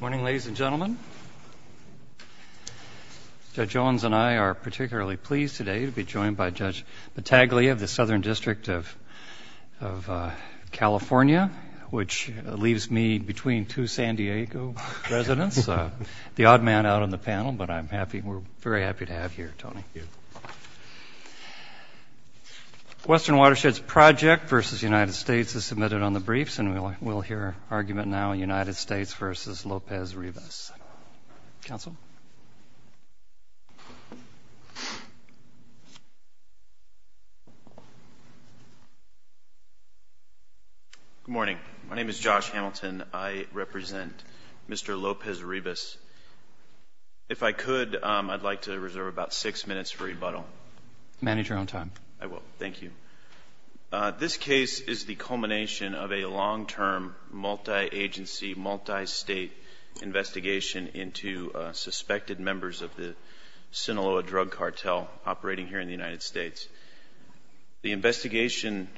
Ladies and gentlemen, Judge Owens and I are particularly pleased today to be joined by Judge Battaglia of the Southern District of California, which leaves me between two San Diego residents, the odd man out on the panel, but we're very happy to have you here, Tony. Western Watersheds Project v. United States is submitted on the briefs and we'll hear our argument now, United States v. Lopez-Rivas. Counsel? Good morning. My name is Josh Hamilton. I represent Mr. Lopez-Rivas. If I could, I'd like to reserve about six minutes for rebuttal. Manage your own time. I will. Thank you. This case is the culmination of a long-term multi-agency, multi-state investigation into suspected members of the Sinaloa drug cartel operating here in the United States. The investigation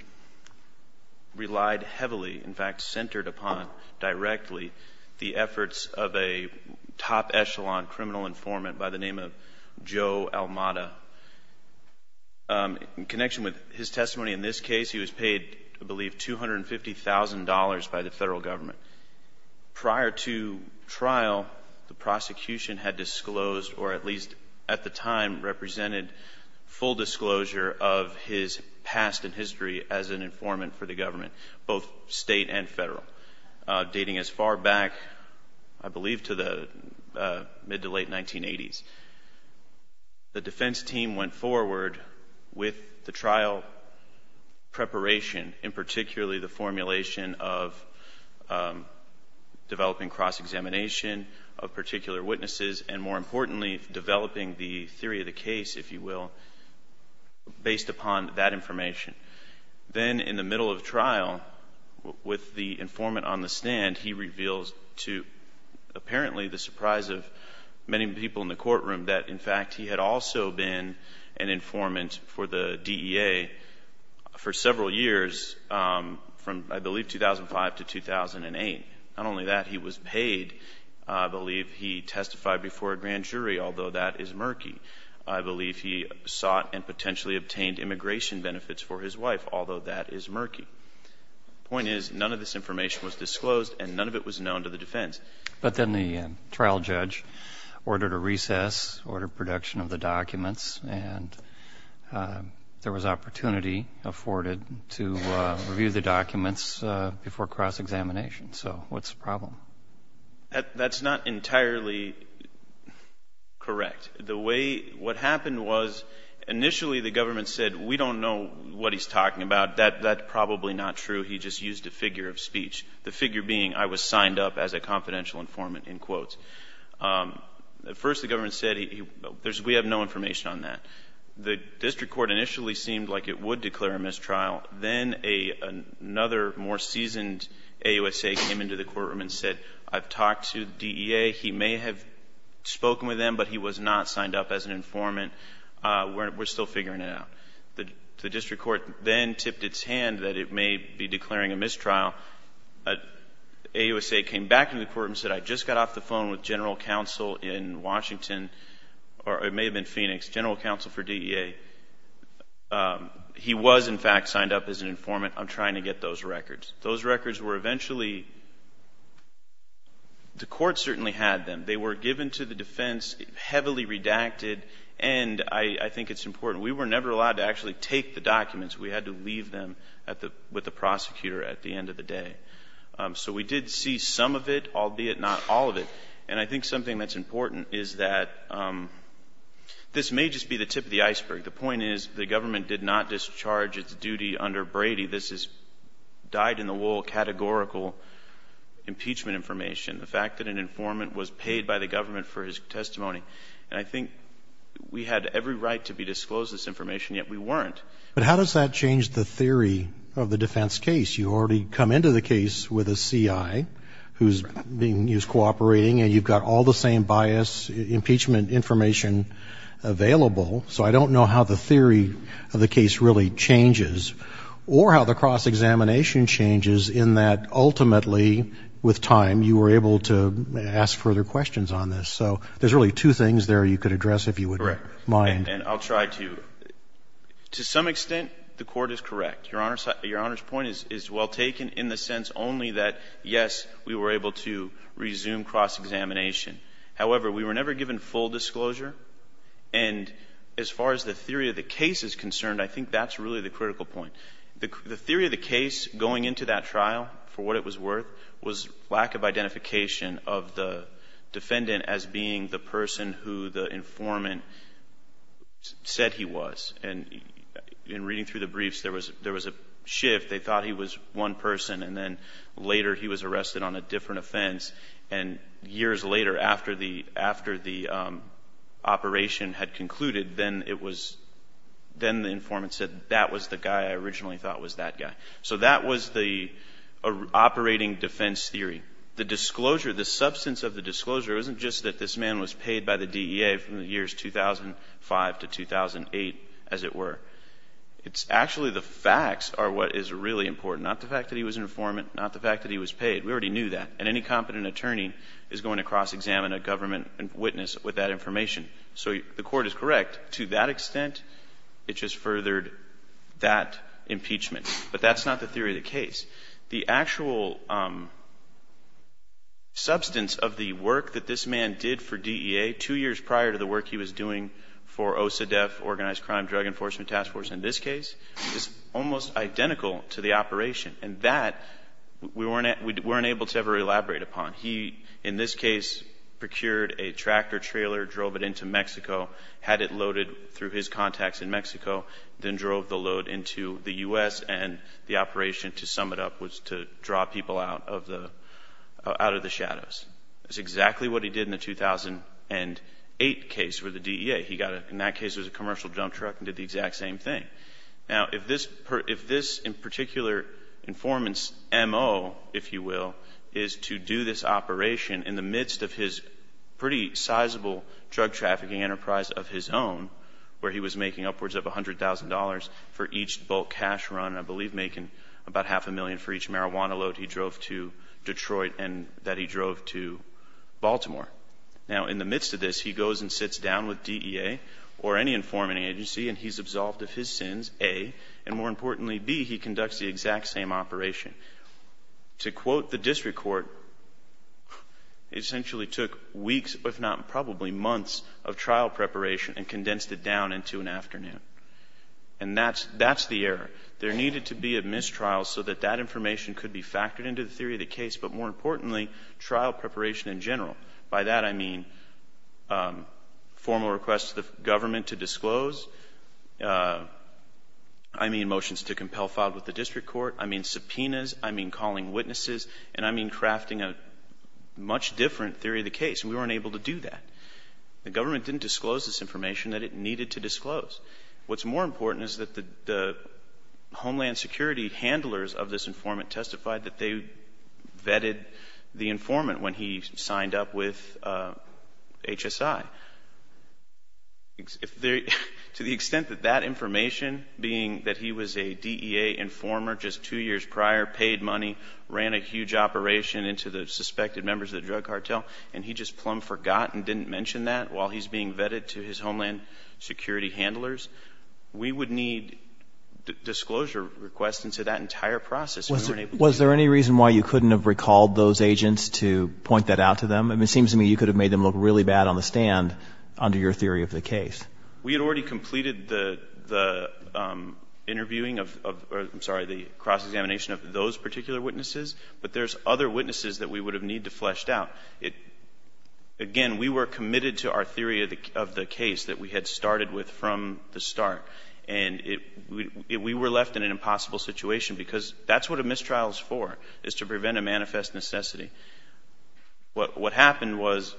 relied heavily, in fact centered upon directly, the efforts of a top echelon criminal informant by the name of Joe Almada. In connection with his testimony in this case, he was paid, I believe, $250,000 by the federal government. Prior to trial, the prosecution had disclosed, or at least at the time represented, full disclosure of his past and history as an informant for the government, both state and federal. Dating as far back, I believe, to the mid to late 1980s, the defense team went forward with the trial preparation, and particularly the formulation of developing cross-examination of particular witnesses, and more importantly, developing the theory of the case, if you will, based upon that information. Then, in the middle of trial, with the informant on the stand, he reveals to, apparently, the surprise of many people in the courtroom that, in fact, he had also been an informant for the DEA for several years, from, I believe, 2005 to 2008. Not only that, he was paid. I believe he testified before a grand jury, although that is murky. I believe he sought and potentially obtained immigration benefits for his wife, although that is murky. The point is, none of this information was disclosed, and none of it was known to the defense. But then the trial judge ordered a recess, ordered production of the documents, and there was opportunity afforded to review the documents before cross-examination. So, what's the problem? That's not entirely correct. The way, what happened was, initially the government said, we don't know what he's talking about. That's probably not true. He just used a figure of speech. The figure being, I was signed up as a confidential informant, in quotes. First, the government said, we have no information on that. The district court initially seemed like it would declare a mistrial. Then, another more seasoned AUSA came into the courtroom and said, I've talked to the DEA. He may have spoken with them, but he was not signed up as an informant. We're still figuring it out. The district court then tipped its hand that it may be declaring a mistrial. AUSA came back into the courtroom and said, I just got off the phone with general counsel in Washington, or it may have been Phoenix, general counsel for DEA. He was, in fact, signed up as an informant. I'm trying to get those records. Those records were eventually, the court certainly had them. They were given to the defense, heavily redacted. I think it's important. We were never allowed to actually take the documents. We had to leave them with the prosecutor at the end of the day. We did see some of it, albeit not all of it. I think something that's important is that this may just be the tip of the iceberg. The point is, the government did not discharge its duty under Brady. This is dyed-in-the-wool, categorical impeachment information. The fact that an attorney, and I think we had every right to be disclosed this information, yet we weren't. How does that change the theory of the defense case? You already come into the case with a CI who's being used cooperating, and you've got all the same bias impeachment information available. I don't know how the theory of the case really changes, or how the cross-examination changes in that ultimately, with time, you were able to ask further questions on this. There's really two things there you could address, if you wouldn't mind. I'll try to. To some extent, the court is correct. Your Honor's point is well taken in the sense only that, yes, we were able to resume cross-examination. However, we were never given full disclosure. As far as the theory of the case is concerned, I think that's really the critical point. The theory of the case going into that trial, for what it was worth, was lack of identification of the defendant as being the person who the informant said he was. In reading through the briefs, there was a shift. They thought he was one person, and then later he was arrested on a different offense. Years later, after the operation had concluded, then the informant said, that was the guy I originally thought was that guy. So that was the operating defense theory. The disclosure, the substance of the disclosure, wasn't just that this man was paid by the DEA from the years 2005 to 2008, as it were. It's actually the facts are what is really important, not the fact that he was an informant, not the fact that he was paid. We already knew that, and any competent attorney is going to cross-examine a government witness with that information. So the court is correct. To that extent, it just furthered that impeachment. But that's not the theory of the case. The actual substance of the work that this man did for DEA, two years prior to the work he was doing for OCDETF, Organized Crime Drug Enforcement Task Force, in this case, is almost identical to the operation. And that, we weren't able to ever elaborate upon. He, in this case, procured a tractor-trailer, drove it into Mexico, had it loaded through his contacts in Mexico, then drove the load into the U.S., and the operation, to sum it up, was to draw people out of the shadows. That's exactly what he did in the 2008 case for the DEA. He got a, in that case, it was a commercial dump truck and did the exact same thing. Now, if this, in particular, informant's MO, if you will, is to do this operation in the midst of his pretty sizable drug-trafficking enterprise of his own, where he was making upwards of $100,000 for each bulk cash run, I believe making about half a million for each marijuana load he drove to Detroit and that he drove to Baltimore. Now in the midst of this, he goes and sits down with DEA or any informing agency and he's absolved of his sins, A, and more importantly, B, he conducts the exact same operation. To quote the district court, it essentially took weeks, if not probably months, of trial preparation and condensed it down into an afternoon. And that's the error. There needed to be a mistrial so that that information could be factored into the theory of the case, but more importantly, trial preparation in general. By that, I mean formal requests of the government to disclose. I mean motions to compel filed with the district court. I mean subpoenas. I mean calling witnesses. And I mean crafting a much different theory of the case. And we weren't able to do that. The government didn't disclose this information that it needed to disclose. What's more important is that the Homeland Security handlers of this informant testified that they vetted the informant when he signed up with HSI. To the extent that that information, being that he was a DEA informer just two years prior, paid money, ran a huge operation into the suspected members of the drug cartel, and he just plum forgotten didn't mention that while he's being vetted to his Homeland Security handlers, we would need disclosure requests into that entire process. Was there any reason why you couldn't have recalled those agents to point that out to them? I mean it seems to me you could have made them look really bad on the stand under your theory of the case. We had already completed the interviewing of, I'm sorry, the cross-examination of those particular witnesses, but there's other witnesses that we would have needed to flesh out. Again, we were committed to our theory of the case that we had started with from the start, and we were left in an impossible situation because that's what a mistrial is for, is to prevent a manifest necessity. What happened was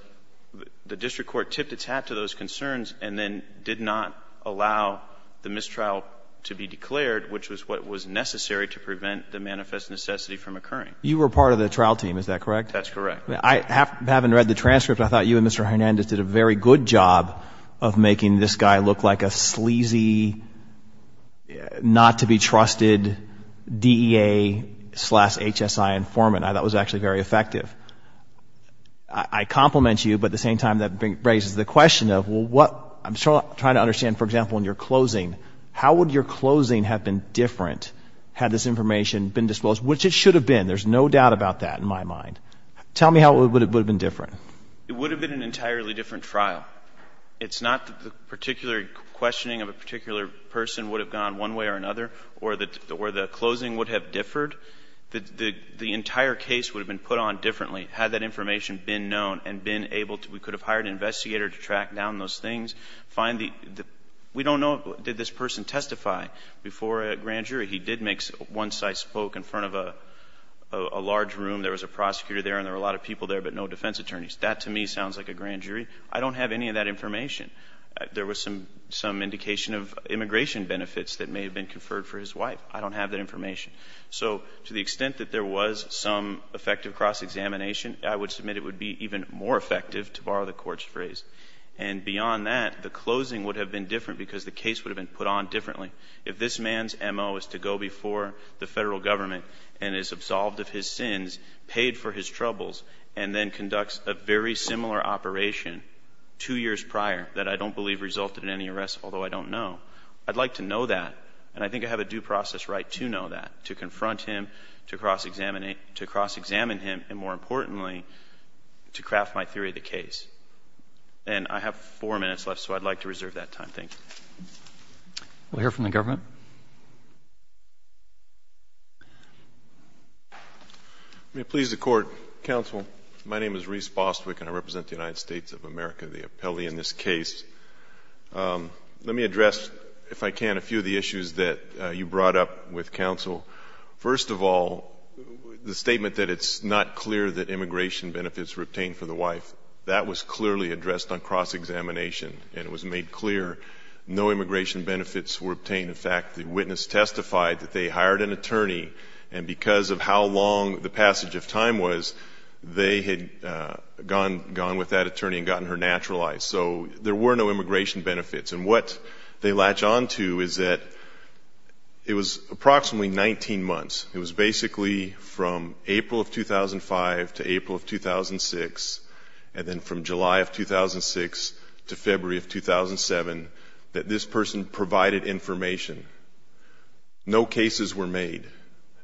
the district court tipped its hat to those concerns and then did not allow the mistrial to be declared, which was what was necessary to prevent the manifest necessity from occurring. You were part of the trial team, is that correct? That's correct. Having read the transcript, I thought you and Mr. Hernandez did a very good job of making this guy look like a sleazy, not-to-be-trusted DEA slash HSI informant. I thought that was actually very effective. I compliment you, but at the same time that raises the question of what, I'm trying to understand, for example, in your closing, how would your closing have been different had this information been disclosed, which it should have been. There's no doubt about that in my mind. Tell me how it would have been different. It would have been an entirely different trial. It's not that the particular questioning of a particular person would have gone one way or another, or the closing would have differed. The entire case would have been put on differently had that information been known and been able to, we could have hired an investigator to track down those things, find the, we don't know did this person testify before a grand jury. He did make, once I spoke in front of a large room, there was a prosecutor there and there were a lot of people there but no defense attorneys. That to me sounds like a grand jury. I don't have any of that information. There was some indication of immigration benefits that may have been conferred for his wife. I don't have that information. So to the extent that there was some effective cross-examination, I would submit it would be even more effective, to borrow the Court's phrase. And beyond that, the closing would have been different because the case would have been put on differently. If this man's M.O. is to go before the Federal Government and is absolved of his sins, paid for his troubles, and then conducts a very similar operation two years prior that I don't believe resulted in any arrest, although I don't know, I'd like to know that. And I think I have a due process right to know that, to confront him, to cross-examine him, and more importantly, to craft my theory of the case. And I have four minutes left, so I'd like to reserve that time. Thank you. We'll hear from the government. May it please the Court. Counsel, my name is Reese Bostwick and I represent the United States of America, the appellee in this case. Let me address, if I can, a few of the issues that you brought up with counsel. First of all, the statement that it's not clear that immigration benefits were obtained for the wife, that was clearly addressed on cross-examination and it was made clear no immigration benefits were obtained. In fact, the witness testified that they hired an attorney and because of how long the passage of time was, they had gone with that attorney and gotten her naturalized. So there were no immigration benefits. And what they latch on to is that it was approximately 19 months. It was basically from April of 2003 to January of 2007 that this person provided information. No cases were made.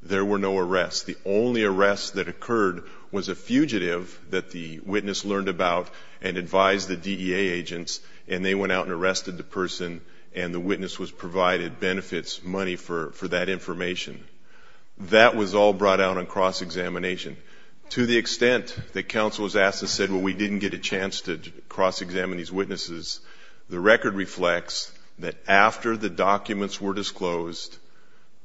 There were no arrests. The only arrest that occurred was a fugitive that the witness learned about and advised the DEA agents and they went out and arrested the person and the witness was provided benefits, money for that information. That was all brought out on cross-examination. To the extent that counsel was asked and said, well, we didn't get a chance to cross-examine these witnesses, the record reflects that after the documents were disclosed,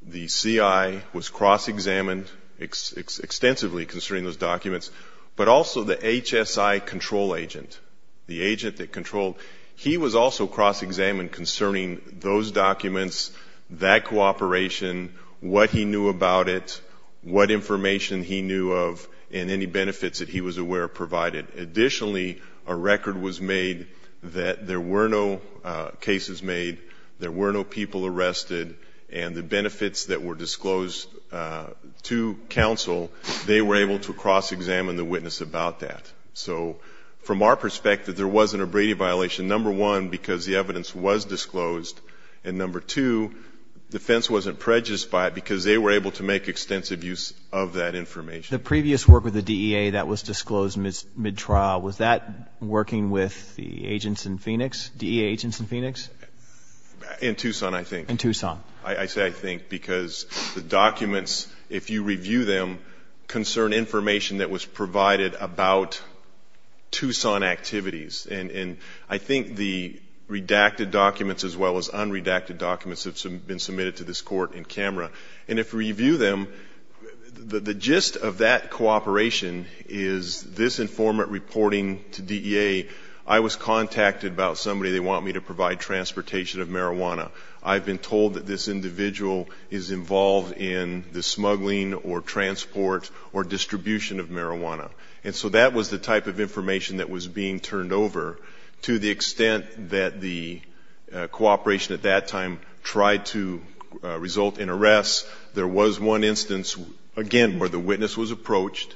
the CI was cross-examined extensively concerning those documents, but also the HSI control agent, the agent that controlled, he was also cross-examined concerning those documents, that cooperation, what he knew about it, what information he knew of, and any benefits that he was aware of provided. Additionally, a record was made that there were no cases made, there were no people arrested, and the benefits that were disclosed to counsel, they were able to cross-examine the witness about that. So from our perspective, there wasn't a Brady violation, number one, because the evidence was disclosed, and number two, defense wasn't prejudiced by it because they were able to make extensive use of that information. The previous work with the DEA that was disclosed mid-trial, was that working with the agents in Phoenix, DEA agents in Phoenix? In Tucson, I think. In Tucson. I say I think because the documents, if you review them, concern information that was provided about Tucson activities. And I think the redacted documents as well as unredacted documents have been submitted to this Court in camera. And if you review them, the gist of that cooperation is this informant reporting to DEA, I was contacted about somebody they want me to provide transportation of marijuana. I've been told that this individual is involved in the smuggling or transport or distribution of marijuana. And so that was the type of information that was being turned over. To the extent that the cooperation at that time tried to result in arrest, there was one instance, again, where the witness was approached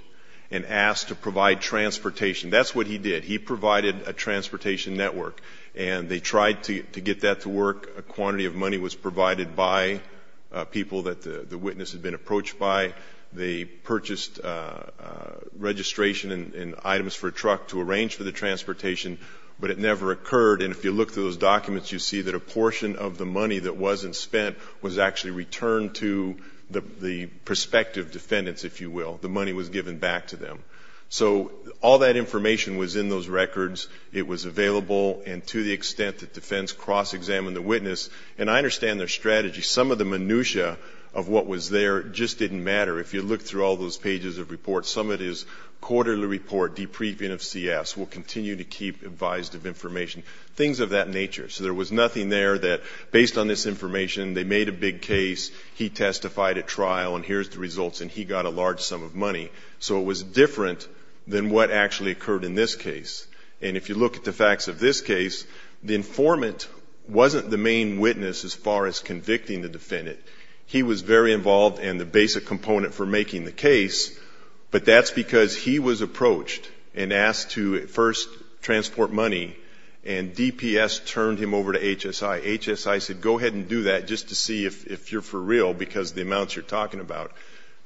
and asked to provide transportation. That's what he did. He provided a transportation network. And they tried to get that to work. A quantity of money was provided by people that the witness had been approached by. They purchased registration and items for a truck to arrange for the transportation, but it never occurred. And if you look through those documents, you see that a portion of the money that wasn't spent was actually returned to the prospective defendants, if you will. The money was given back to them. So all that information was in those records. It was available. And to the extent that defense cross-examined the witness, and I understand their strategy, some of the minutia of what was there just didn't matter. If you look through all those pages of reports, some of it is quarterly report, depriving of CS, we'll continue to keep advised of information, things of that nature. So there was nothing there that, based on this information, they made a big case, he testified at trial, and here's the results, and he got a large sum of money. So it was different than what actually occurred in this case. And if you look at the facts of this case, the informant wasn't the main witness as far as convicting the defendant. He was very involved in the basic component for making the case, but that's because he was approached and asked to first transport money, and DPS turned him over to HSI. HSI said, go ahead and do that just to see if you're for real because of the amounts you're talking about.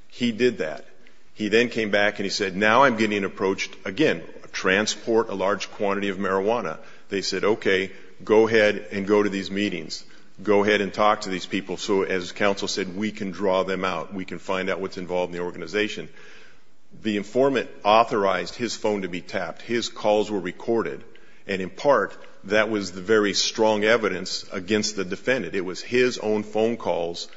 He did that. He then came back and he said, now I'm getting approached again, transport a large quantity of marijuana. They said, okay, go ahead and go to these meetings. Go ahead and talk to these people so, as counsel said, we can draw them out. We can find out what's involved in the organization. The informant authorized his phone to be tapped. His calls were recorded, and in part, that was the very strong evidence against the defendant. It was his own phone calls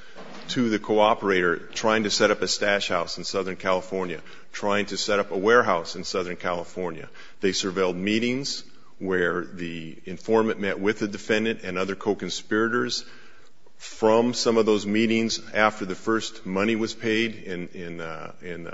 to the co-operator trying to set up a stash house in Southern California, trying to set up a warehouse in Southern California. They surveilled meetings where the informant met with the defendant and other co-conspirators. From some of those meetings, after the first money was paid in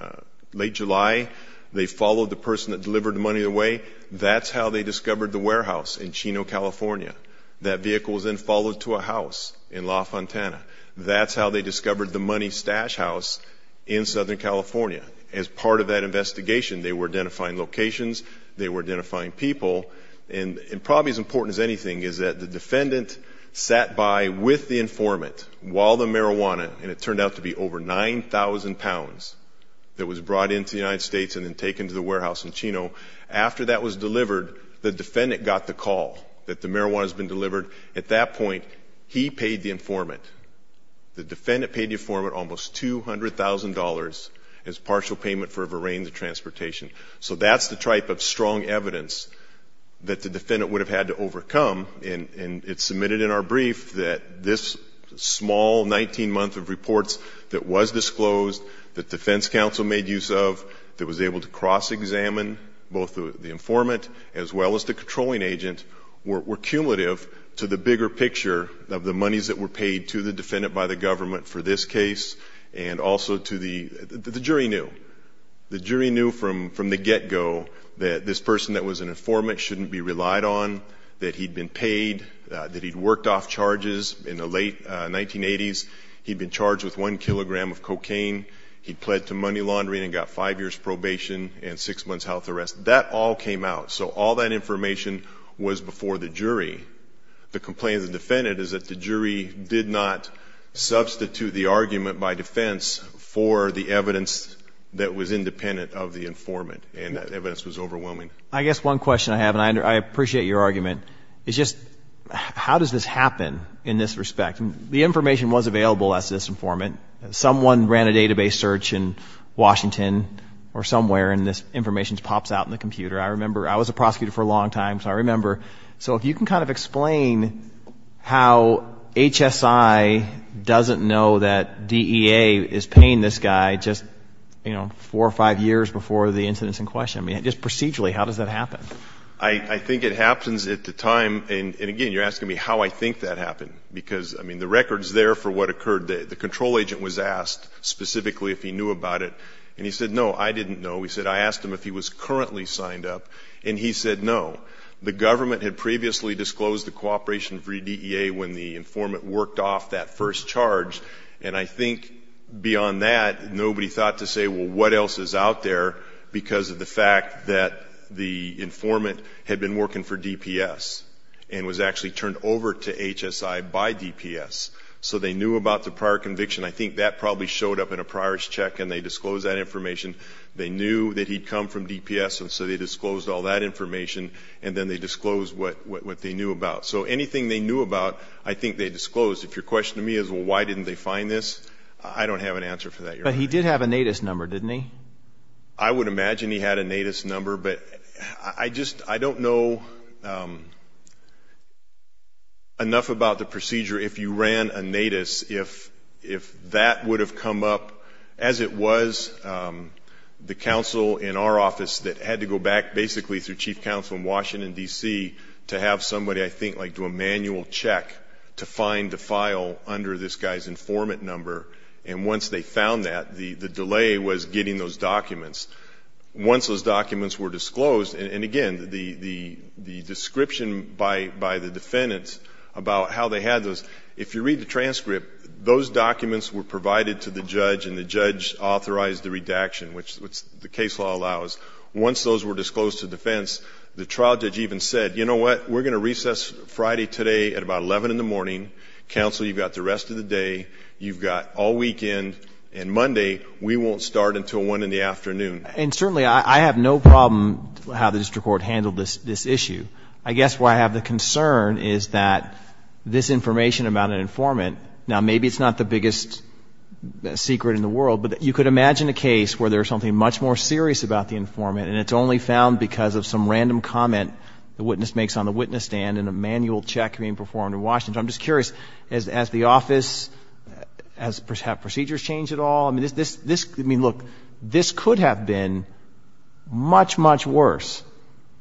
late July, they followed the person that delivered the money away. That's how they discovered the warehouse in Chino, California. That vehicle was then followed to a house in La Fontana. That's how they discovered the money stash house in Southern California. As part of that investigation, they were identifying locations, they were identifying people, and probably as important as anything is that the defendant sat by with the informant while the marijuana, and it turned out to be over 9,000 pounds, that was brought into the United States and then taken to the warehouse in Chino, after that was delivered, the defendant got the call that the marijuana has been delivered. At that point, he paid the informant. The defendant paid the informant almost $200,000 as partial payment for a verain to transportation. So that's the type of strong evidence that the defendant would have had to overcome, and it's submitted in our brief that this small 19-month of reports that was disclosed, that defense counsel made use of, that was able to cross-examine both the informant as well as the controlling agent, were cumulative to the bigger picture of the monies that were paid to the defendant by the government for this case, and also to the, the jury knew. The jury knew from the get-go that this person that was an informant shouldn't be relied on, that he'd been paid, that he'd worked off charges in the late 1980s, he'd been charged with one kilogram of cocaine, he'd pled to money laundering and got five years' probation and six months' health arrest. That all came out, so all that information was before the jury. The complaint of the defendant is that the jury did not substitute the argument by defense for the evidence that was independent of the informant, and that evidence was overwhelming. I guess one question I have, and I appreciate your argument, is just how does this happen in this respect? The information was available as this informant. Someone ran a database search in Washington or somewhere, and this information pops out in the computer. I remember, I was a prosecutor for a long time, so I remember. So if you can kind of explain how HSI doesn't know that DEA is paying this guy just, you know, four or five years before the incidents in question. I mean, just procedurally, how does that happen? I think it happens at the time, and again, you're asking me how I think that happened, because I mean, the record's there for what occurred. The control agent was asked specifically if he knew about it, and he said, no, I didn't know. He said, I asked him if he was currently signed up, and he said, no. The government had previously disclosed the cooperation for DEA when the informant worked off that first charge, and I think beyond that, nobody thought to say, well, what else is out there, because of the fact that the informant had been working for DPS, and was actually turned over to HSI by DPS. So they knew about the prior conviction. I think that probably showed up in a priors check, and they disclosed that information. They knew that he'd come from DPS, and so they disclosed all that information, and then they disclosed what they knew about. So anything they knew about, I think they disclosed. If your question to me is, well, why didn't they find this, I don't have an answer for that, But he did have a NATIS number, didn't he? I would imagine he had a NATIS number, but I just, I don't know enough about the procedure if you ran a NATIS, if that would have come up, as it was, the counsel in our office that had to go back, basically, through chief counsel in Washington, D.C., to have somebody, I think, like do a manual check to find the file under this guy's informant number, and once they found that, the delay was getting those documents. Once those documents were disclosed, and again, the description by the defendants about how they had those, if you read the transcript, those documents were provided to the judge, and the judge authorized the redaction, which the case law allows. Once those were disclosed to defense, the trial judge even said, you know what, we're going to recess Friday today at about 11 in the morning. Counsel, you've got the rest of the day, you've got all weekend, and Monday, we won't start until 1 in the afternoon. And certainly, I have no problem how the district court handled this issue. I guess where I have the concern is that this information about an informant, now, maybe it's not the biggest secret in the world, but you could imagine a case where there's something much more serious about the informant, and it's only found because of some random comment the witness makes on the witness stand and a manual check being performed in Washington. I'm just curious, as the office, have procedures changed at all? I mean, look, this could have been much, much worse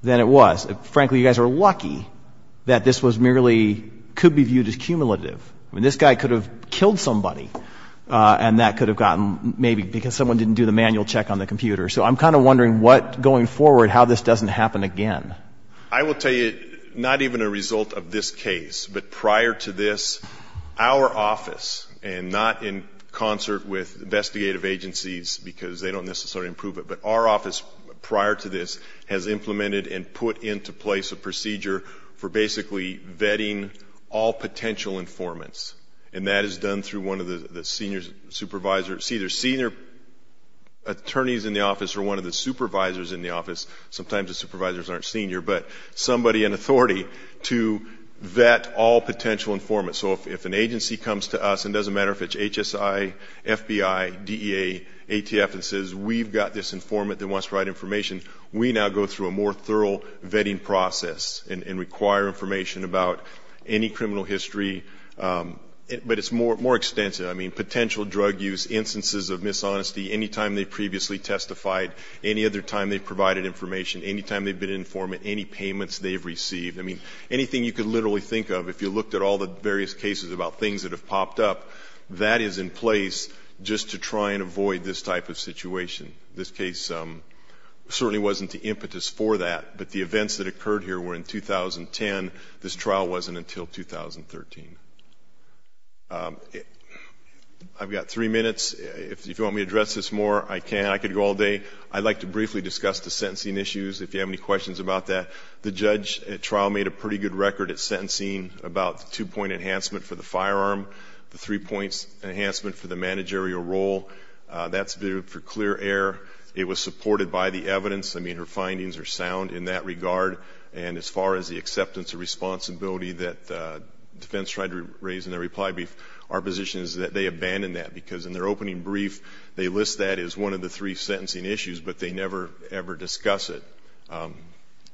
than it was. Frankly, you guys are lucky that this was merely could be viewed as cumulative. I mean, this guy could have killed somebody, and that could have gotten maybe because someone didn't do the manual check on the computer. So I'm kind of wondering what, going forward, how this doesn't happen again. I will tell you, not even a result of this case, but prior to this, our office, and not in concert with investigative agencies because they don't necessarily approve it, but our office prior to this has implemented and put into place a procedure for basically vetting all potential informants. And that is done through one of the senior supervisors. See, there's senior attorneys in the office or one of the supervisors in the office. Sometimes the supervisors aren't senior, but somebody in authority to vet all potential informants. So if an agency comes to us, it doesn't matter if it's HSI, FBI, DEA, ATF, and says, we've got this informant that wants to write information, we now go through a more thorough vetting process and require information about any criminal history. But it's more extensive. I mean, potential drug use, instances of dishonesty, any time they previously testified, any other time they provided information, any time they've been an informant, any payments they've received. I mean, anything you could literally think of, if you looked at all the various cases about things that have popped up, that is in place just to try and avoid this type of situation. This case certainly wasn't the impetus for that, but the events that occurred here were in 2010. This trial wasn't until 2013. I've got three minutes. If you want me to address this more, I can. I could go all day. I'd like to briefly discuss the sentencing issues, if you have any questions about that. The judge at trial made a pretty good record at sentencing about the two-point enhancement for the firearm, the three-point enhancement for the managerial role. That's for clear error. It was supported by the evidence. I mean, her findings are sound in that regard. And as far as the acceptance of responsibility that defense tried to raise in their reply brief, our position is that they abandoned that, because in their opening brief, they list that as one of the three sentencing issues, but they never, ever discuss it.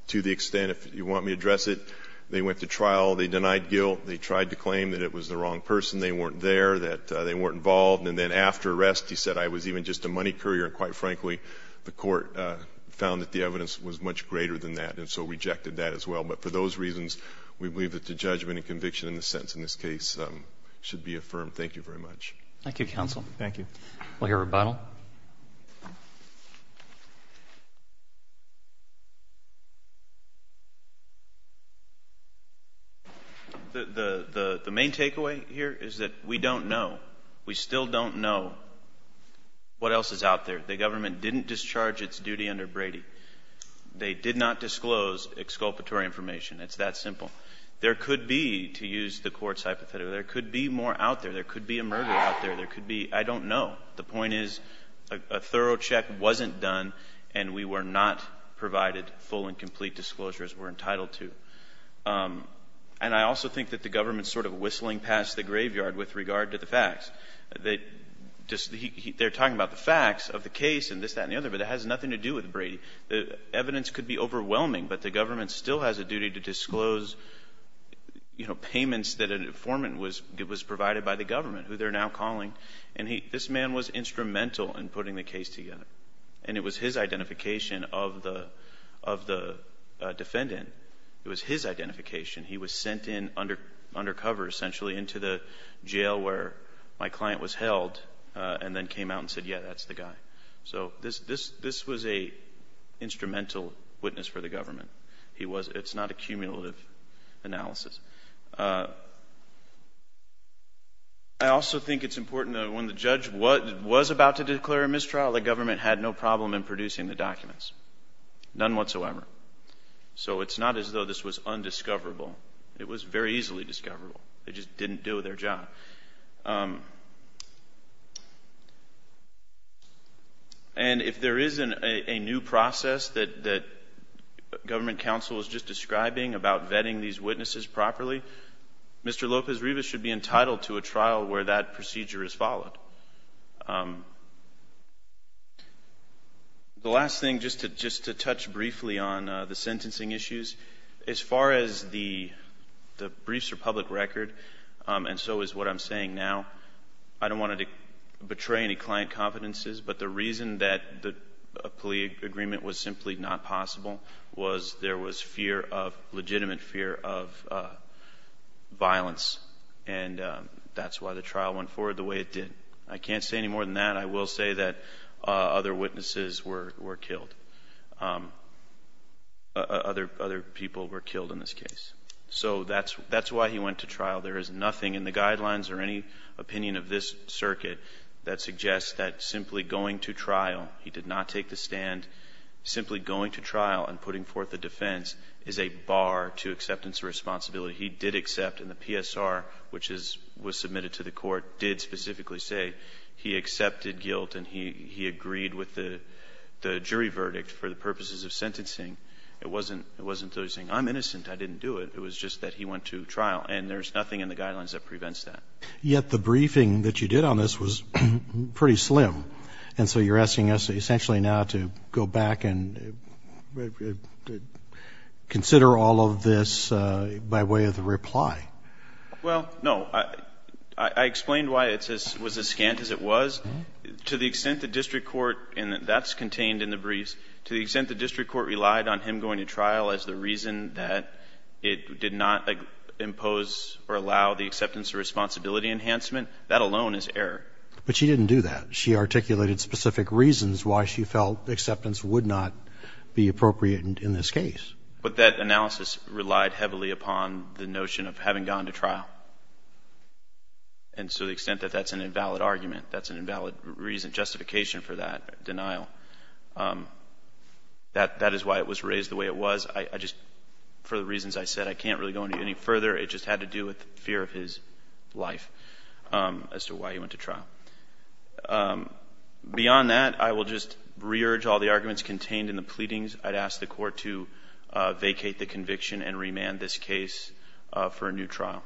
To the extent, if you want me to address it, they went to trial, they denied guilt, they tried to claim that it was the wrong person, they weren't there, that they weren't involved. And then after arrest, he said, I was even just a money courier. And quite frankly, the court found that the evidence was much greater than that, and so rejected that as well. But for those reasons, we believe that the judgment and conviction in the sentence in this case should be affirmed. Thank you very much. Thank you, counsel. Thank you. We'll hear rebuttal. The main takeaway here is that we don't know. We still don't know what else is out there. The government didn't discharge its duty under Brady. They did not disclose exculpatory information. It's that simple. There could be, to use the court's hypothetical, there could be a murder out there. There could be, I don't know. The point is, a thorough check wasn't done, and we were not provided full and complete disclosure, as we're entitled to. And I also think that the government's sort of whistling past the graveyard with regard to the facts. They're talking about the facts of the case and this, that, and the other, but it has nothing to do with Brady. The evidence could be overwhelming, but the government still has a duty to disclose, you know, payments that an informant was, it was provided by the government, who they're now calling, and he, this man was instrumental in putting the case together, and it was his identification of the, of the defendant. It was his identification. He was sent in under, undercover, essentially, into the jail where my client was held, and then came out and said, yeah, that's the guy. So this, this, this was a instrumental witness for the government. He was, it's not a cumulative analysis. I also think it's important that when the judge was, was about to declare a mistrial, the government had no problem in producing the documents. None whatsoever. So it's not as though this was undiscoverable. It was very easily discoverable. They just didn't do their job. And if there is a new process that, that government counsel is just describing about vetting these witnesses properly, Mr. Lopez-Rivas should be entitled to a trial where that procedure is followed. The last thing, just to, just to touch briefly on the sentencing issues, as far as the briefs are concerned, it's a public record, and so is what I'm saying now. I don't want to betray any client confidences, but the reason that the plea agreement was simply not possible was there was fear of, legitimate fear of violence, and that's why the trial went forward the way it did. I can't say any more than that. I will say that other witnesses were, went to trial. There is nothing in the guidelines or any opinion of this circuit that suggests that simply going to trial, he did not take the stand, simply going to trial and putting forth a defense is a bar to acceptance of responsibility. He did accept, and the PSR, which is, was submitted to the court, did specifically say he accepted guilt and he, he agreed with the, the jury verdict for the purposes of sentencing. It wasn't, it wasn't simply saying, I'm innocent, I didn't do it. It was just that he went to trial, and there's nothing in the guidelines that prevents that. Yet the briefing that you did on this was pretty slim, and so you're asking us essentially now to go back and consider all of this by way of the reply. Well, no. I, I explained why it's as, was as scant as it was. To the extent the district court, and that's contained in the briefs, to the extent the district court relied on him going to trial as the reason that it did not impose or allow the acceptance of responsibility enhancement, that alone is error. But she didn't do that. She articulated specific reasons why she felt acceptance would not be appropriate in this case. But that analysis relied heavily upon the notion of having gone to trial. And to the extent that that's an invalid argument, that's an invalid reason, justification for that denial. That, that is why it was raised the way it was. I, I just, for the reasons I said, I can't really go into any further. It just had to do with fear of his life as to why he went to trial. Beyond that, I will just re-urge all the arguments contained in the pleadings. I'd ask the court to vacate the conviction and remand this case for a new trial.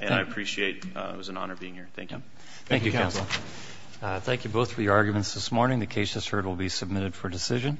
And I appreciate, it was Thank you, counsel. Thank you both for your arguments this morning. The case has heard will be submitted for decision.